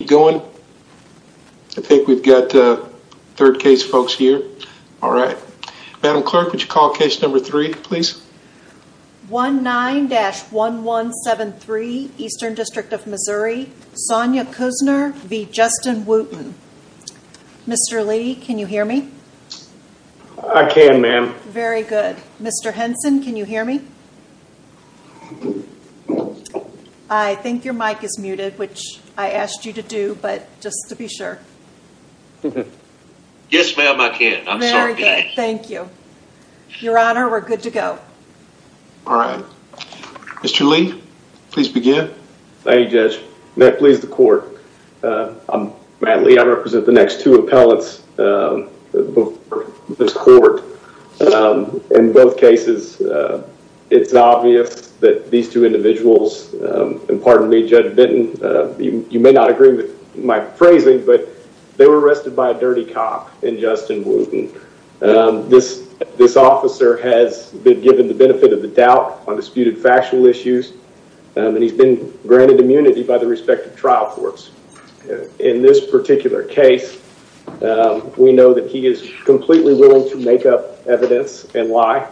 Mr. Lee can you hear me? I can ma'am. Very good. Mr. Henson can you hear me? I think your but just to be sure. Yes ma'am I can. I'm sorry. Thank you. Your honor we're good to go. All right. Mr. Lee please begin. Thank you judge. May it please the court. I'm Matt Lee. I represent the next two appellates before this court. In both cases it's obvious that these two individuals and pardon me judge Benton you may not agree with my phrasing but they were arrested by a dirty cop in Justin Wooten. This this officer has been given the benefit of the doubt on disputed factual issues and he's been granted immunity by the respective trial courts. In this particular case we know that he is completely willing to make up evidence and lie.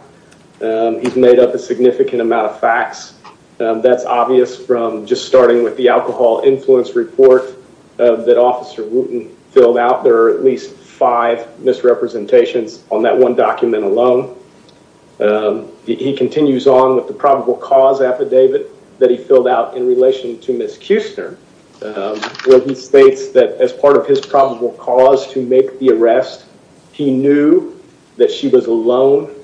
He's made up a significant amount of facts. That's obvious from just starting with the alcohol influence report that officer Wooten filled out. There are at least five misrepresentations on that one document alone. He continues on with the probable cause affidavit that he filled out in relation to Miss Kuessner where he states that as part of his probable cause to make the arrest he knew that she was alone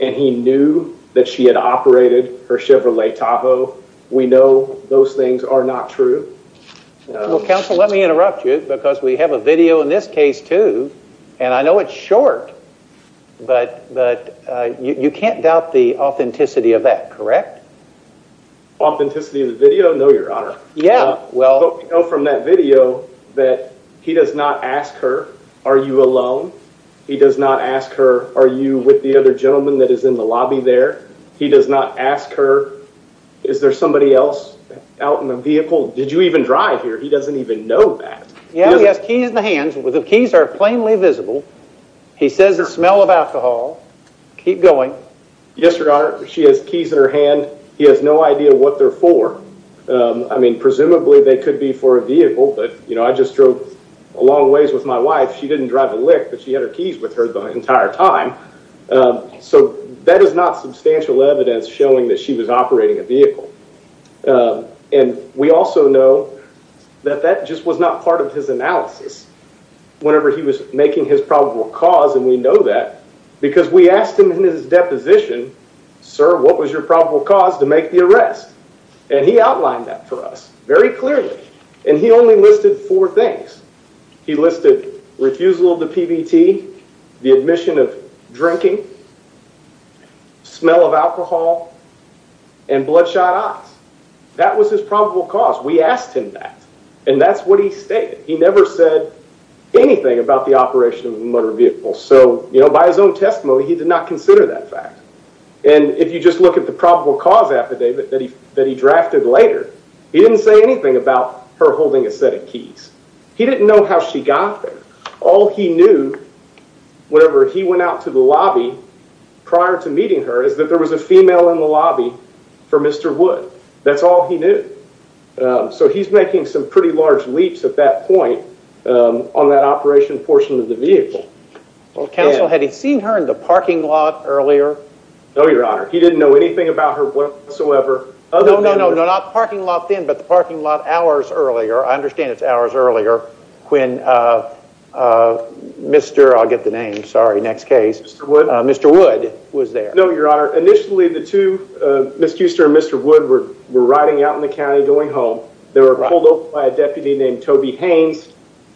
and he knew that she had operated her Chevrolet Tahoe. We know those things are not true. Well counsel let me interrupt you because we have a video in this case too and I know it's short but but you you can't doubt the authenticity of that correct? Authenticity of the video? No your honor. Yeah well from that video that he does not ask her are you alone? He does not ask her are you with the other gentleman that is in the lobby there? He does not ask her is there somebody else out in the vehicle? Did you even drive here? He doesn't even know that. Yeah he has keys in the hands. The keys are plainly visible. He says the smell of alcohol. Keep going. Yes your honor. She has keys in her hand. He has no idea what they're for. I mean presumably they could be for a vehicle but you know I just drove along ways with my wife she didn't drive a lick but she had her keys with her the entire time so that is not substantial evidence showing that she was operating a vehicle and we also know that that just was not part of his analysis whenever he was making his probable cause and we know that because we asked him in his deposition sir what was your probable cause to make the arrest and he outlined that for us very clearly and he only listed four things he listed refusal of the pbt the admission of drinking smell of alcohol and bloodshot eyes that was his probable cause we asked him that and that's what he stated he never said anything about the operation of the motor vehicle so you know by his own testimony he did not consider that fact and if you just look at the probable cause affidavit that he that he drafted later he didn't say anything about her holding a set of keys he didn't know how she got there all he knew whenever he went out to the lobby prior to meeting her is that there was a female in the lobby for mr wood that's all he knew so he's making some pretty large leaps at that point on that operation portion of the vehicle well counsel had he seen her in the parking lot earlier no your honor he didn't know anything about her whatsoever no no no not parking lot then but the parking lot hours earlier i understand it's hours earlier when uh uh mr i'll get the name sorry next case mr wood mr wood was there no your honor initially the two uh miss houster and mr wood were were riding out in the county going home they were pulled by a deputy named toby haynes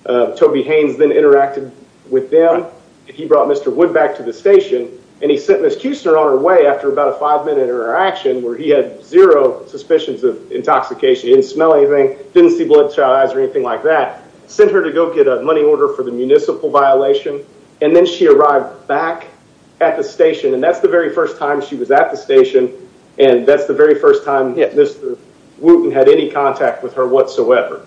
uh toby haynes then interacted with them he brought mr wood back to the station and he sent miss houster on her way after about a five minute interaction where he had zero suspicions of intoxication he didn't smell anything didn't see blood child eyes or anything like that sent her to go get a money order for the municipal violation and then she arrived back at the station and that's the very first time she was at the station and that's the very first time mr wooten had any contact with her whatsoever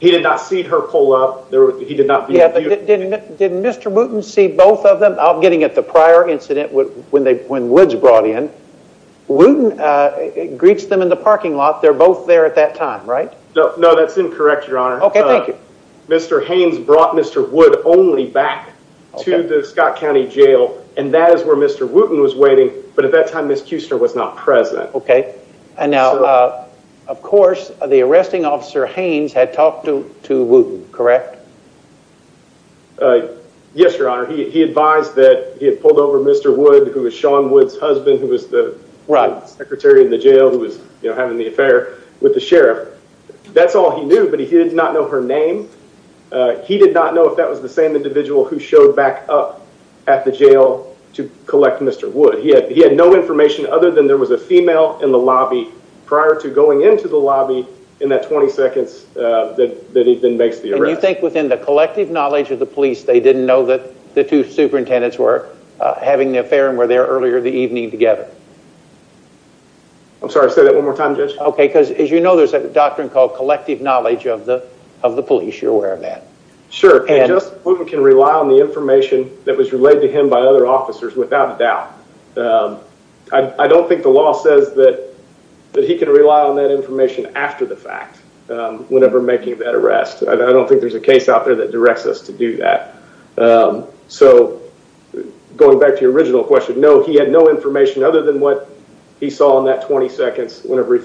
he did not see her pull up there he did not yeah didn't didn't mr wooten see both of them i'm getting at the prior incident when they when woods brought in wooten uh greets them in the parking lot they're both there at that time right no no that's incorrect your honor okay thank you mr haynes brought mr wood only back to the scott county jail and that is where mr wooten was waiting but at that time miss houster was not present okay and now uh of course the arresting officer haynes had talked to to wooten correct uh yes your honor he advised that he had pulled over mr wood who was sean wood's husband who was the right secretary in the jail who was you know having the affair with the sheriff that's all he knew but he did not know her name uh he did not know if that was the same individual who showed back up at the jail to collect mr wood he had he had no information other than there was a female in the lobby prior to going into the lobby in that 20 seconds uh that that he then makes the arrest you think within the collective knowledge of the police they didn't know that the two superintendents were having the affair and were there earlier the evening together i'm sorry say that one more time judge okay because as you know there's a doctrine called collective knowledge of the of the police you're aware of that sure and just we can rely on the information that was relayed to him by other officers without a doubt um i don't think the law says that that he can rely on that information after the fact um whenever making that arrest i don't think there's a case out there that directs us to do that um so going back to your original question no he had no information other than what he saw in that 20 seconds whenever he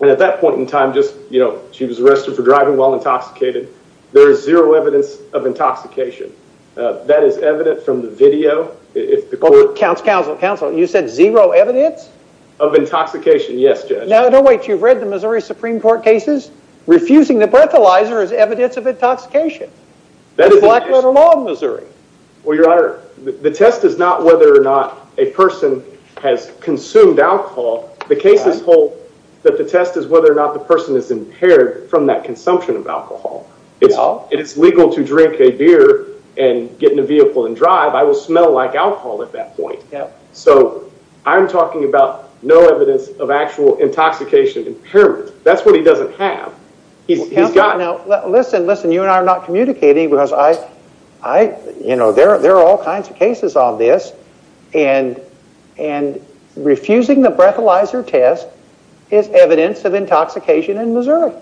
and at that point in time just you know she was arrested for driving while intoxicated there is zero evidence of intoxication uh that is evident from the video if the court counts counsel counsel you said zero evidence of intoxication yes judge now don't wait you've read the missouri supreme court cases refusing the breathalyzer is evidence of intoxication that is black little law in missouri well your honor the test is not whether or not a person has consumed alcohol the case is hold that the test is whether or not the person is impaired from that consumption of alcohol it's all it's legal to drink a beer and get in a vehicle and drive i will smell like alcohol at that point so i'm talking about no evidence of actual intoxication impairment that's what he doesn't have he's got now listen listen you and i are communicating because i i you know there are all kinds of cases on this and and refusing the breathalyzer test is evidence of intoxication in missouri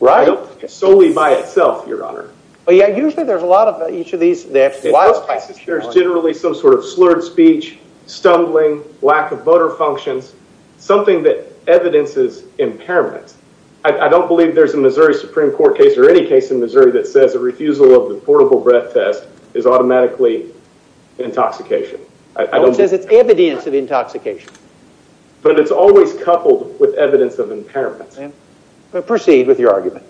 right solely by itself your honor oh yeah usually there's a lot of each of these there's generally some sort of slurred speech stumbling lack of motor functions something that evidences impairment i don't believe there's a that says a refusal of the portable breath test is automatically intoxication it says it's evidence of intoxication but it's always coupled with evidence of impairment but proceed with your argument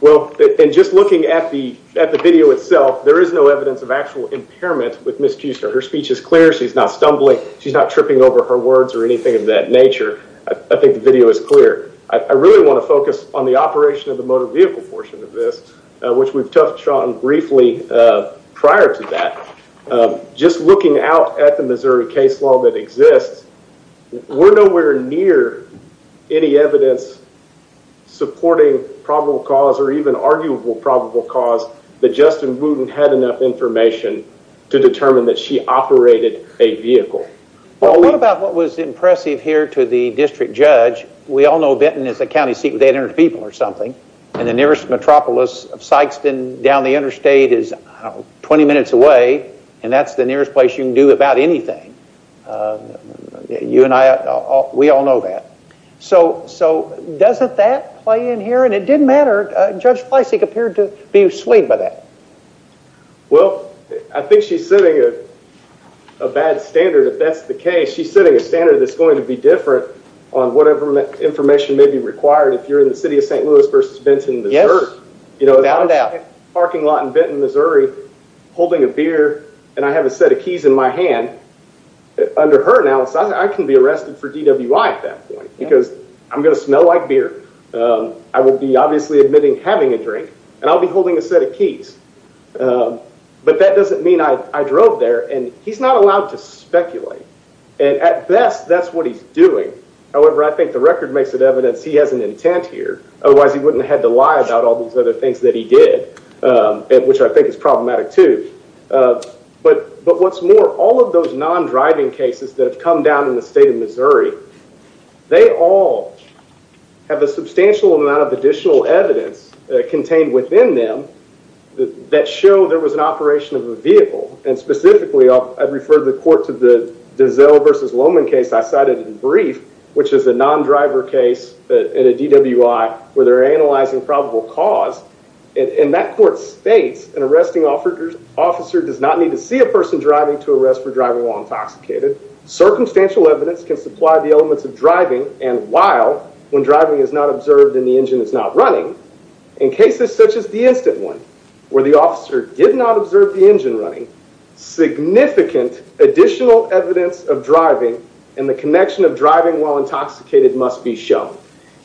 well and just looking at the at the video itself there is no evidence of actual impairment with miss kuster her speech is clear she's not stumbling she's not tripping over her words or anything of that nature i think the video is clear i really want to focus on the operation of the vehicle portion of this which we've touched on briefly prior to that just looking out at the missouri case law that exists we're nowhere near any evidence supporting probable cause or even arguable probable cause that justin wooten had enough information to determine that she operated a vehicle well what about what was impressive here to the district judge we all know benton is a county seat with 800 people or something and the nearest metropolis of sykestan down the interstate is 20 minutes away and that's the nearest place you can do about anything you and i all we all know that so so doesn't that play in here and it didn't matter judge flesig appeared to be swayed by that well i think she's setting a bad standard if that's the case she's setting a standard that's going to be different on whatever information may be required if you're in the city of st louis versus benton missouri you know about that parking lot in benton missouri holding a beer and i have a set of keys in my hand under her analysis i can be arrested for dwi at that point because i'm going to smell like beer i will be obviously admitting having a drink and i'll be holding a set of keys but that doesn't mean i i drove there and he's not allowed to speculate and at best that's what he's doing however i think the record makes it evidence he has an intent here otherwise he wouldn't have to lie about all these other things that he did which i think is problematic too but but what's more all of those non-driving cases that have come down in the state of missouri they all have a substantial amount of additional evidence contained within them that show there was an operation of a vehicle and specifically i'd refer the court to the dizelle versus lowman case i cited in brief which is a non-driver case that in a dwi where they're analyzing probable cause and that court states an arresting offer officer does not need to see a person driving to arrest for driving while intoxicated circumstantial evidence can supply the elements of driving and while when driving is not observed and the engine is not running in cases such as the instant one where the officer did not observe the additional evidence of driving and the connection of driving while intoxicated must be shown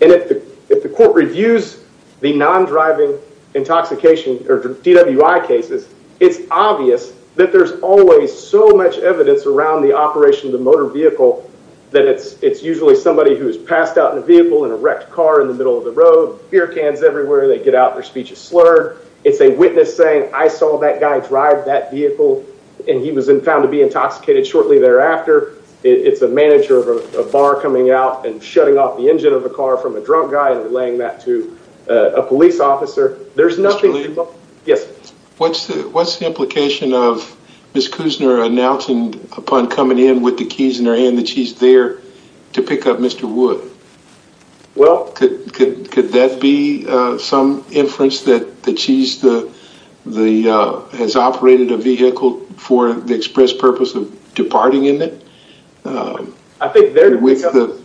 and if the if the court reviews the non-driving intoxication or dwi cases it's obvious that there's always so much evidence around the operation of the motor vehicle that it's it's usually somebody who's passed out in a vehicle in a wrecked car in the middle of the road beer cans everywhere they get out their speech is slurred it's a witness saying i saw that guy drive that vehicle and he was found to be intoxicated shortly thereafter it's a manager of a bar coming out and shutting off the engine of a car from a drunk guy and relaying that to a police officer there's nothing yes what's the what's the implication of miss kusner announcing upon coming in with the keys in her hand that she's there to pick up mr wood well could could could that be uh some inference that that she's the the uh has operated a vehicle for the express purpose of departing in it um i think they're with the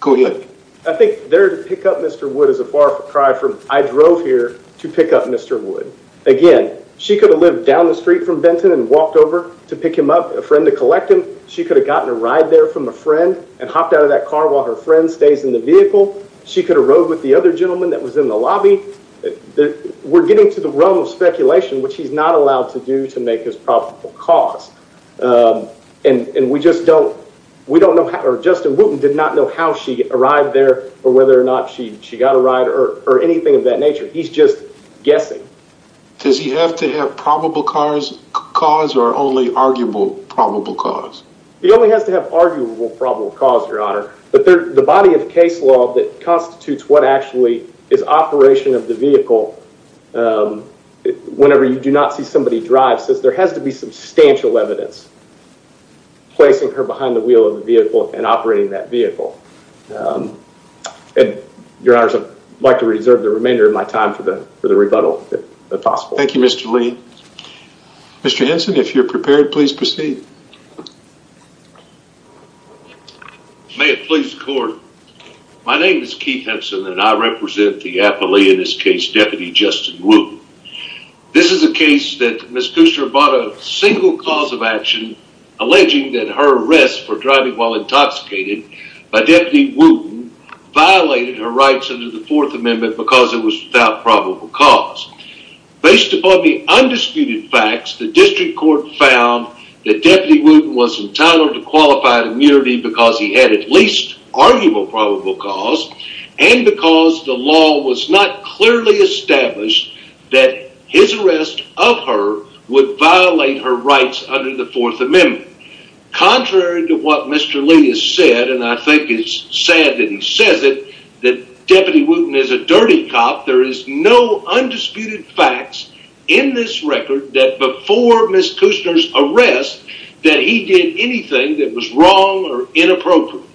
go ahead i think they're to pick up mr wood is a far cry from i drove here to pick up mr wood again she could have lived down the street from benton and walked over to pick him up a friend to collect him she could have gotten a ride there from a friend and hopped out of that car while her friend stays in the vehicle she could have rode with the other gentleman that was in the lobby that we're getting to the realm of speculation which he's not allowed to do to make his probable cause um and and we just don't we don't know how or justin wooten did not know how she arrived there or whether or not she she got a ride or or anything of that nature he's just guessing does he have to have probable cars cause or only arguable probable cause he only has to have arguable probable cause your honor but the body of case law that constitutes what actually is operation of the vehicle whenever you do not see somebody drive says there has to be substantial evidence placing her behind the wheel of the vehicle and operating that vehicle and your honors i'd like to reserve the remainder of my time for the for the rebuttal if possible thank you mr lee mr henson if you're prepared please proceed may it please the court my name is keith henson and i represent the appellee in this case deputy justin wooten this is a case that miss kuster bought a single cause of action alleging that her arrest for driving while intoxicated by deputy wooten violated her rights under the fourth amendment because it was without probable cause based upon the undisputed facts the district found that deputy wooten was entitled to qualified immunity because he had at least arguable probable cause and because the law was not clearly established that his arrest of her would violate her rights under the fourth amendment contrary to what mr lee has said and i think it's sad that he says it that deputy wooten is a dirty cop there is no undisputed facts in this record that before miss kusner's arrest that he did anything that was wrong or inappropriate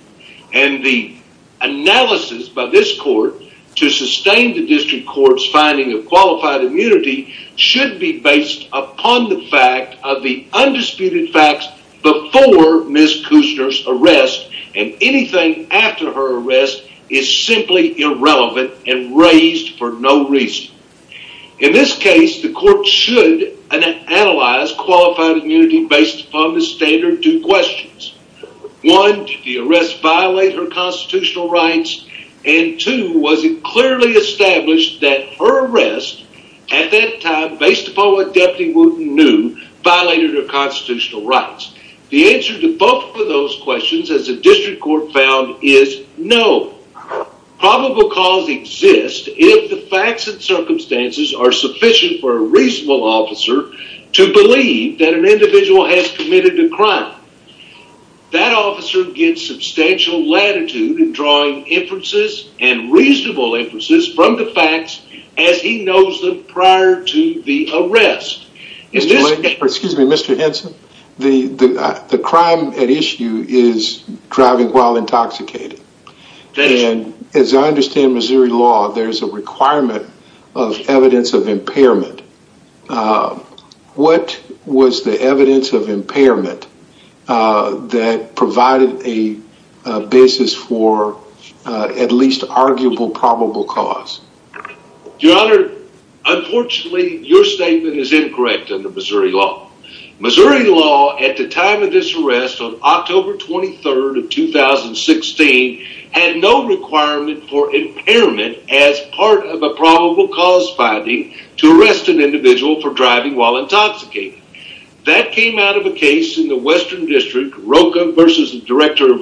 and the analysis by this court to sustain the district court's finding of qualified immunity should be based upon the fact of the undisputed facts before miss kusner's arrest and anything after her arrest is simply irrelevant and raised for no reason in this case the court should analyze qualified immunity based upon the standard two questions one did the arrest violate her constitutional rights and two was it clearly established that her arrest at that time based upon what deputy wooten knew violated her constitutional rights the answer to both of the questions the district court found is no probable cause exists if the facts and circumstances are sufficient for a reasonable officer to believe that an individual has committed a crime that officer gets substantial latitude in drawing inferences and reasonable inferences from the facts as he knows them prior to the arrest excuse me mr henson the the crime at issue is driving while intoxicated and as i understand missouri law there's a requirement of evidence of impairment uh what was the evidence of impairment uh that provided a basis for at least arguable probable cause your honor unfortunately your statement is incorrect under missouri law missouri law at the time of this arrest on october 23rd of 2016 had no requirement for impairment as part of a probable cause finding to arrest an individual for driving while intoxicated that came out of a case in the western district roca versus the director of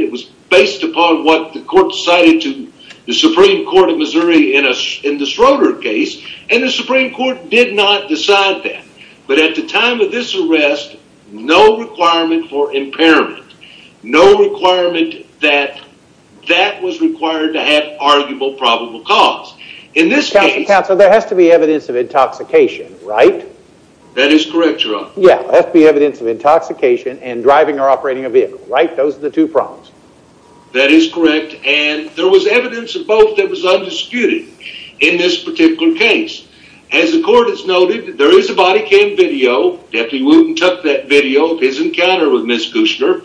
it was based upon what the court cited to the supreme court of missouri in a in the schroeder case and the supreme court did not decide that but at the time of this arrest no requirement for impairment no requirement that that was required to have arguable probable cause in this case counsel there has to be evidence of intoxication right that is correct your honor yeah that's the that is correct and there was evidence of both that was undisputed in this particular case as the court has noted there is a body cam video deputy wooten took that video of his encounter with miss kushner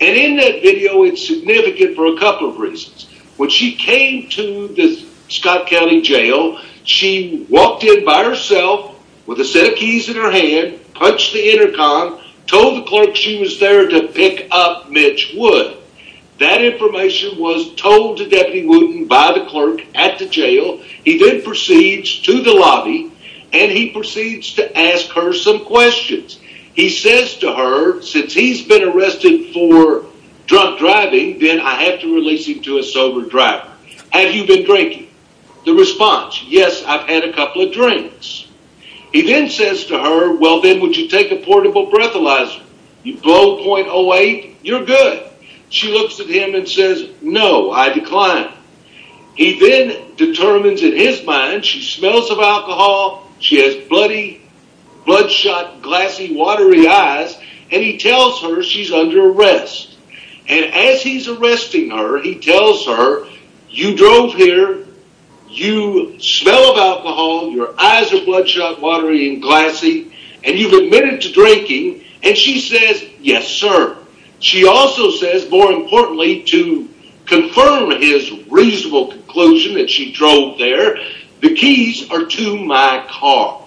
and in that video it's significant for a couple of reasons when she came to the scott county jail she walked in by herself with a set of keys in her hand punched the intercom told the clerk she was there to pick up mitch wood that information was told to deputy wooten by the clerk at the jail he then proceeds to the lobby and he proceeds to ask her some questions he says to her since he's been arrested for drunk driving then i have to release him to a sober driver have you been drinking the response yes i've had a couple of drinks he then says to her well then would you take a portable breathalyzer you blow 0.08 you're good she looks at him and says no i decline he then determines in his mind she smells of alcohol she has bloody bloodshot glassy watery eyes and he tells her she's under arrest and as he's arresting her he tells her you drove here you smell of alcohol your eyes are bloodshot watery and glassy and you've admitted to drinking and she says yes sir she also says more importantly to confirm his reasonable conclusion that she drove there the keys are to my car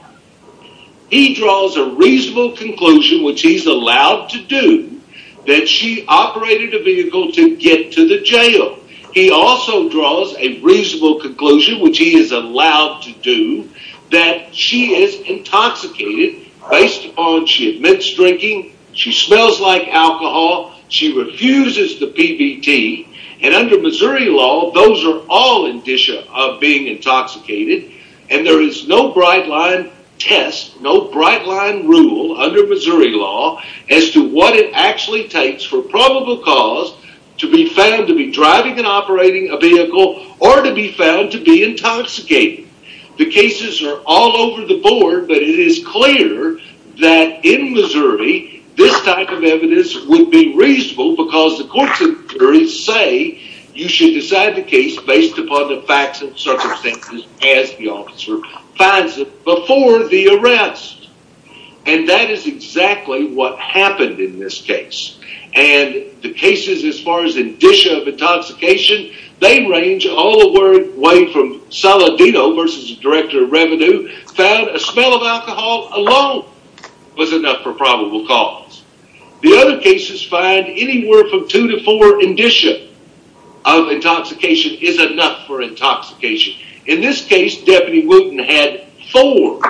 he draws a reasonable conclusion which he's allowed to do that she operated a vehicle to get to the jail he also draws a reasonable conclusion which he is allowed to do that she is intoxicated based on she admits drinking she smells like alcohol she refuses the pbt and under missouri law those are all indicia of being intoxicated and there is no bright line test no bright line rule under missouri law as to what it actually takes for probable cause to be found to be driving and operating a vehicle or to be found to be intoxicated the cases are all over the board but it is clear that in missouri this type of evidence would be reasonable because the courts of juries say you should decide the case based upon the circumstances as the officer finds it before the arrest and that is exactly what happened in this case and the cases as far as indicia of intoxication they range all the way from Saladino versus the director of revenue found a smell of alcohol alone was enough for probable cause the other cases find anywhere from two to four indicia of intoxication is enough for in this case deputy wilton had four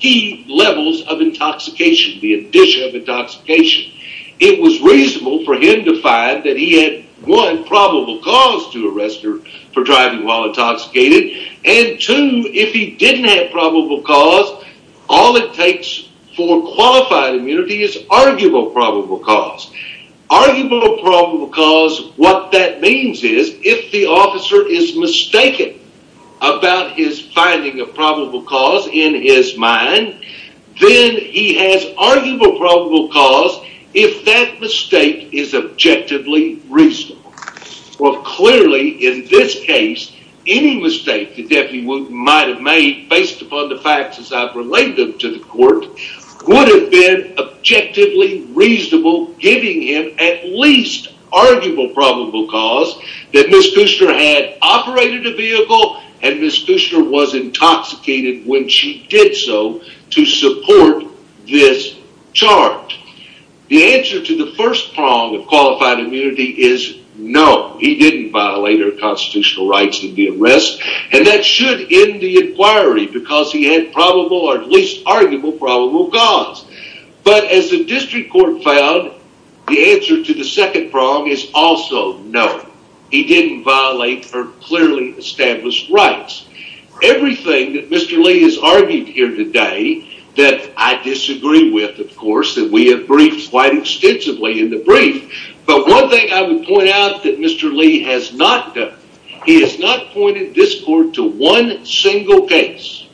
key levels of intoxication the indicia of intoxication it was reasonable for him to find that he had one probable cause to arrest her for driving while intoxicated and two if he didn't have probable cause all it takes for qualified immunity is cause arguable probable cause what that means is if the officer is mistaken about his finding of probable cause in his mind then he has arguable probable cause if that mistake is objectively reasonable well clearly in this case any mistake the deputy might have made based upon the facts i've relayed them to the court would have been objectively reasonable giving him at least arguable probable cause that miss kushner had operated a vehicle and miss kushner was intoxicated when she did so to support this chart the answer to the first prong of qualified immunity is no he didn't violate her constitutional rights in the arrest and that should end the inquiry because he had probable or at least arguable probable cause but as the district court found the answer to the second prong is also no he didn't violate her clearly established rights everything that mr lee has argued here today that i disagree with of course that we have briefed quite extensively in the brief but one thing i would point out that mr lee has not done he has not pointed this court to one single case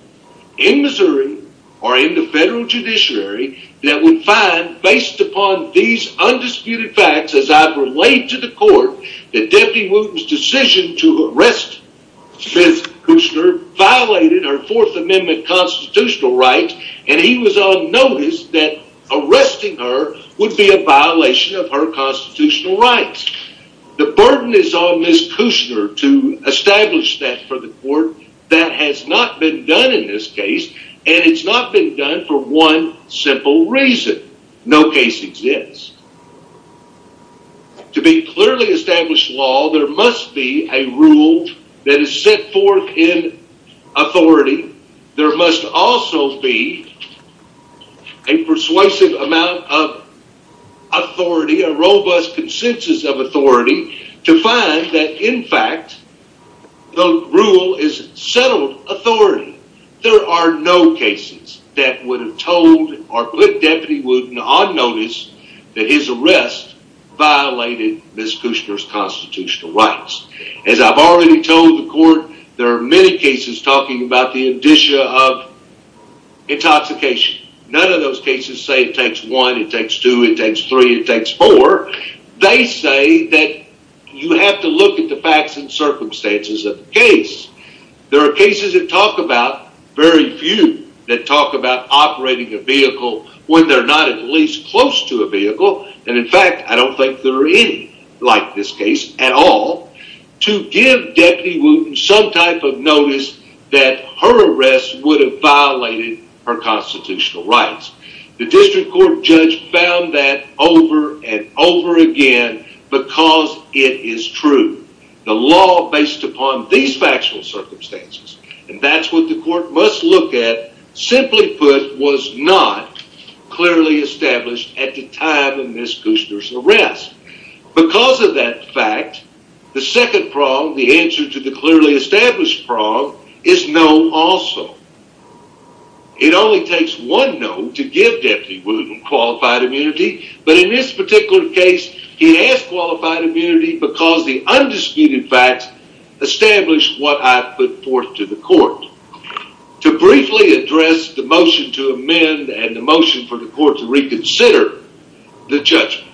in missouri or in the federal judiciary that would find based upon these undisputed facts as i've relayed to the court that deputy wooten's decision to arrest miss kushner violated her fourth amendment constitutional rights and he was on notice that arresting her would be a violation of her constitutional rights the burden is on miss kushner to establish that for the court that has not been done in this case and it's not been done for one simple reason no case exists to be clearly established law there must be a rule that is set forth in authority there must also be a persuasive amount of authority a robust consensus of authority to find that in fact the rule is settled authority there are no cases that would have told or put deputy wooten on notice that his arrest violated miss kushner's constitutional rights as i've already told the of intoxication none of those cases say it takes one it takes two it takes three it takes four they say that you have to look at the facts and circumstances of the case there are cases that talk about very few that talk about operating a vehicle when they're not at least close to a vehicle and in fact i don't think there are any like this case at all to give deputy wooten some notice that her arrest would have violated her constitutional rights the district court judge found that over and over again because it is true the law based upon these factual circumstances and that's what the court must look at simply put was not clearly established at the time of established problem is no also it only takes one no to give deputy wooten qualified immunity but in this particular case he asked qualified immunity because the undisputed facts established what i put forth to the court to briefly address the motion to amend and the motion for the court to reconsider the judgment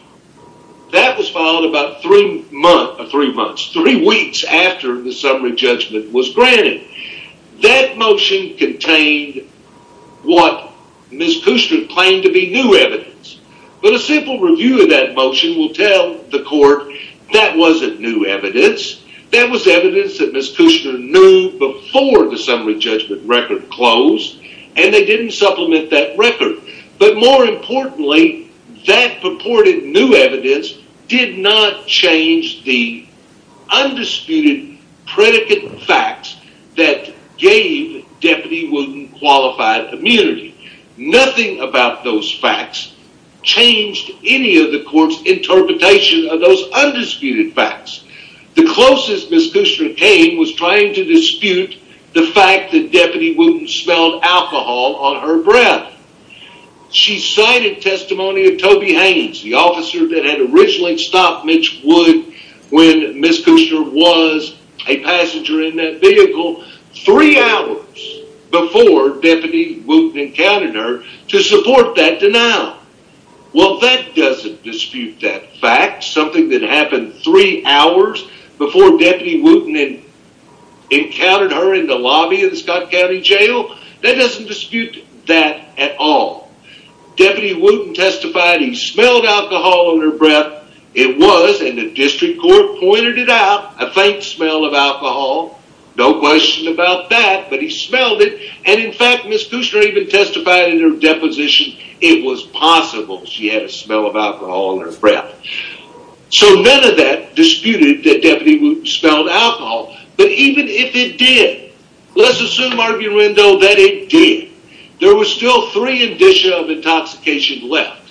that was filed about three month or three months three weeks after the summary judgment was granted that motion contained what miss kushner claimed to be new evidence but a simple review of that motion will tell the court that wasn't new evidence that was evidence that miss kushner knew before the summary judgment record closed and they didn't supplement that record but more importantly that purported new evidence did not change the undisputed predicate facts that gave deputy wooten qualified immunity nothing about those facts changed any of the court's interpretation of those undisputed facts the closest miss kushner came was trying to dispute the fact that deputy wooten smelled alcohol on her breath she cited testimony of toby haynes the officer that had originally stopped mitch wood when miss kushner was a passenger in that vehicle three hours before deputy wooten encountered her to support that denial well that doesn't dispute that fact something that happened three hours before deputy wooten encountered her in the lobby of the scott county jail that doesn't dispute that at all deputy wooten testified he smelled alcohol on her breath it was and the district court pointed it out a faint smell of alcohol no question about that but he smelled it and in fact miss kushner even testified in her deposition it was possible she had a smell of alcohol on her breath so none of that disputed that deputy wooten smelled alcohol but even if it did let's assume arguendo that it did there was still three indicia of intoxication left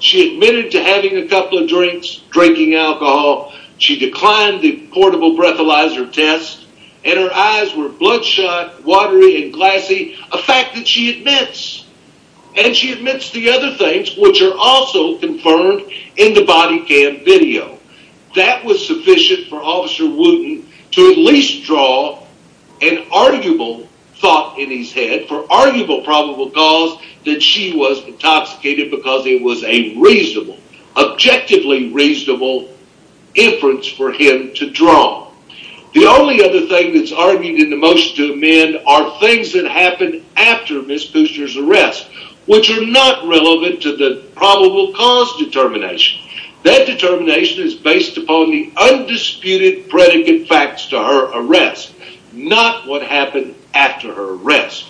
she admitted to having a couple of drinks drinking alcohol she declined the portable breathalyzer test and her eyes were bloodshot watery and glassy a fact that she admits and she admits the other things which are also confirmed in the body cam video that was sufficient for officer wooten to at least draw an arguable thought in his head for arguable probable cause that she was intoxicated because it was a reasonable objectively reasonable inference for him to draw the only other thing that's argued in the motion to amend are things that happened after miss kushner's arrest which are not relevant to the probable cause determination that determination is based upon the undisputed predicate facts to her arrest not what happened after her arrest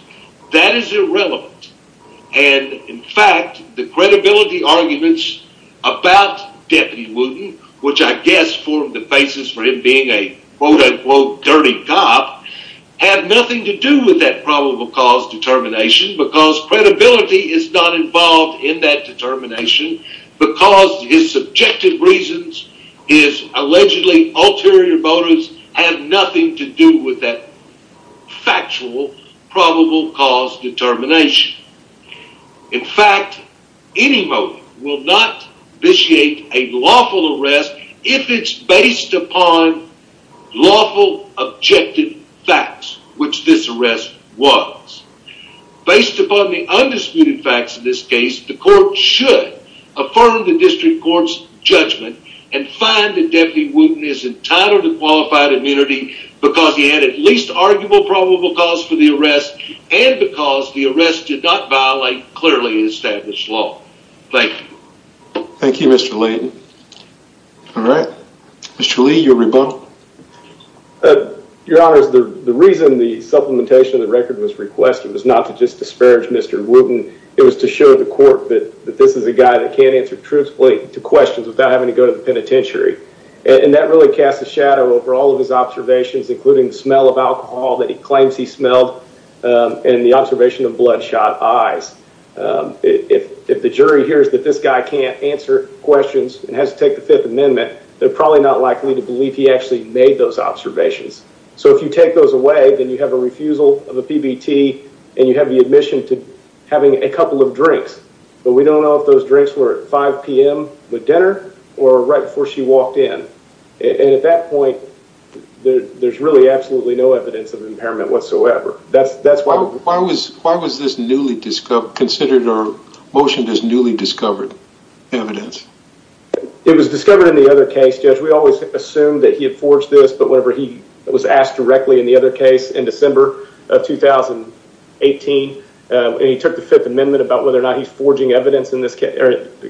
that is irrelevant and in fact the credibility arguments about deputy wooten which i guess formed the basis for him being a quote-unquote dirty cop have nothing to do with that probable cause determination because credibility is not involved in that determination because his subjective reasons his allegedly ulterior motives have nothing to do with that factual probable cause determination in fact any motive will not initiate a lawful arrest if it's based upon lawful objective facts which this arrest was based upon the undisputed facts in this case the court should affirm the district court's judgment and find that deputy wooten is entitled to qualified immunity because he had at least arguable probable cause for the arrest and because the arrest did not violate clearly established law thank you thank you mr layden all right mr lee your rebuttal your honor is the the reason the supplementation of the record was requested was not to just disparage mr wooten it was to show the court that that this is a guy that can't answer truthfully to questions without having to go to the penitentiary and that really casts a shadow over all of his observations including the smell of alcohol that he claims he smelled and the observation of bloodshot eyes if if the jury hears that this guy can't answer questions and has to take the fifth amendment they're probably not likely to believe he actually made those observations so if you take those away then you have a refusal of a pbt and you have the admission to having a couple of drinks but we don't know if those drinks were at 5 p.m with dinner or right before she walked in and at that point there's really absolutely no evidence of impairment whatsoever that's that's why why was why was this newly discovered considered or motioned as newly discovered evidence it was discovered in the other case judge we always assumed that he had forged this but whenever he was asked directly in the other case in december of 2018 and he took the fifth amendment about whether or not he's forging evidence in this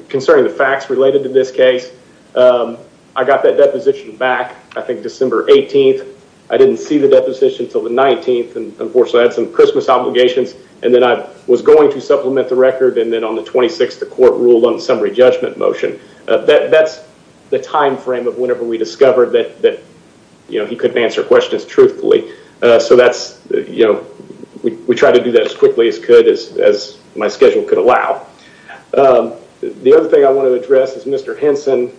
concerning the facts related to this case i got that deposition back i think december 18th i didn't see the deposition until the 19th and unfortunately i had some christmas obligations and then i was going to supplement the record and then on the 26th the court ruled on summary motion that that's the time frame of whenever we discovered that that you know he couldn't answer questions truthfully uh so that's you know we try to do that as quickly as could as as my schedule could allow um the other thing i want to address is mr henson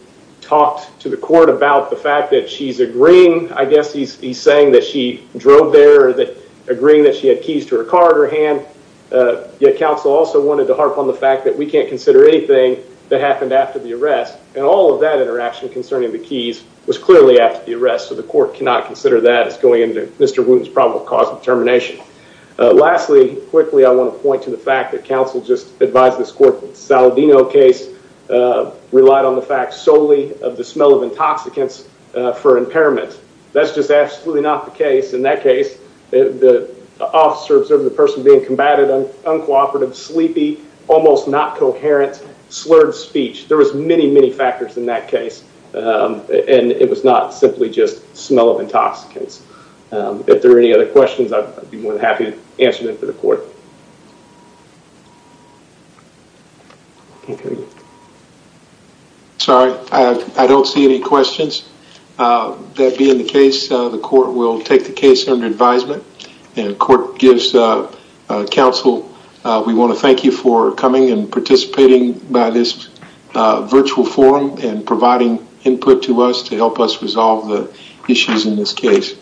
talked to the court about the fact that she's agreeing i guess he's he's saying that she drove there or that agreeing that she had keys to her car in her hand uh yet counsel also wanted to harp on the fact that we can't consider anything happened after the arrest and all of that interaction concerning the keys was clearly after the arrest so the court cannot consider that as going into mr wooten's probable cause of termination lastly quickly i want to point to the fact that counsel just advised this court saladino case relied on the fact solely of the smell of intoxicants for impairment that's just absolutely not the case in that case the officer observed the person being combated uncooperative sleepy almost not coherent slurred speech there was many many factors in that case and it was not simply just smell of intoxicants if there are any other questions i'd be more than happy to answer them for the court sorry i don't see any questions that being the case the court will take the case under and court gives counsel we want to thank you for coming and participating by this virtual forum and providing input to us to help us resolve the issues in this case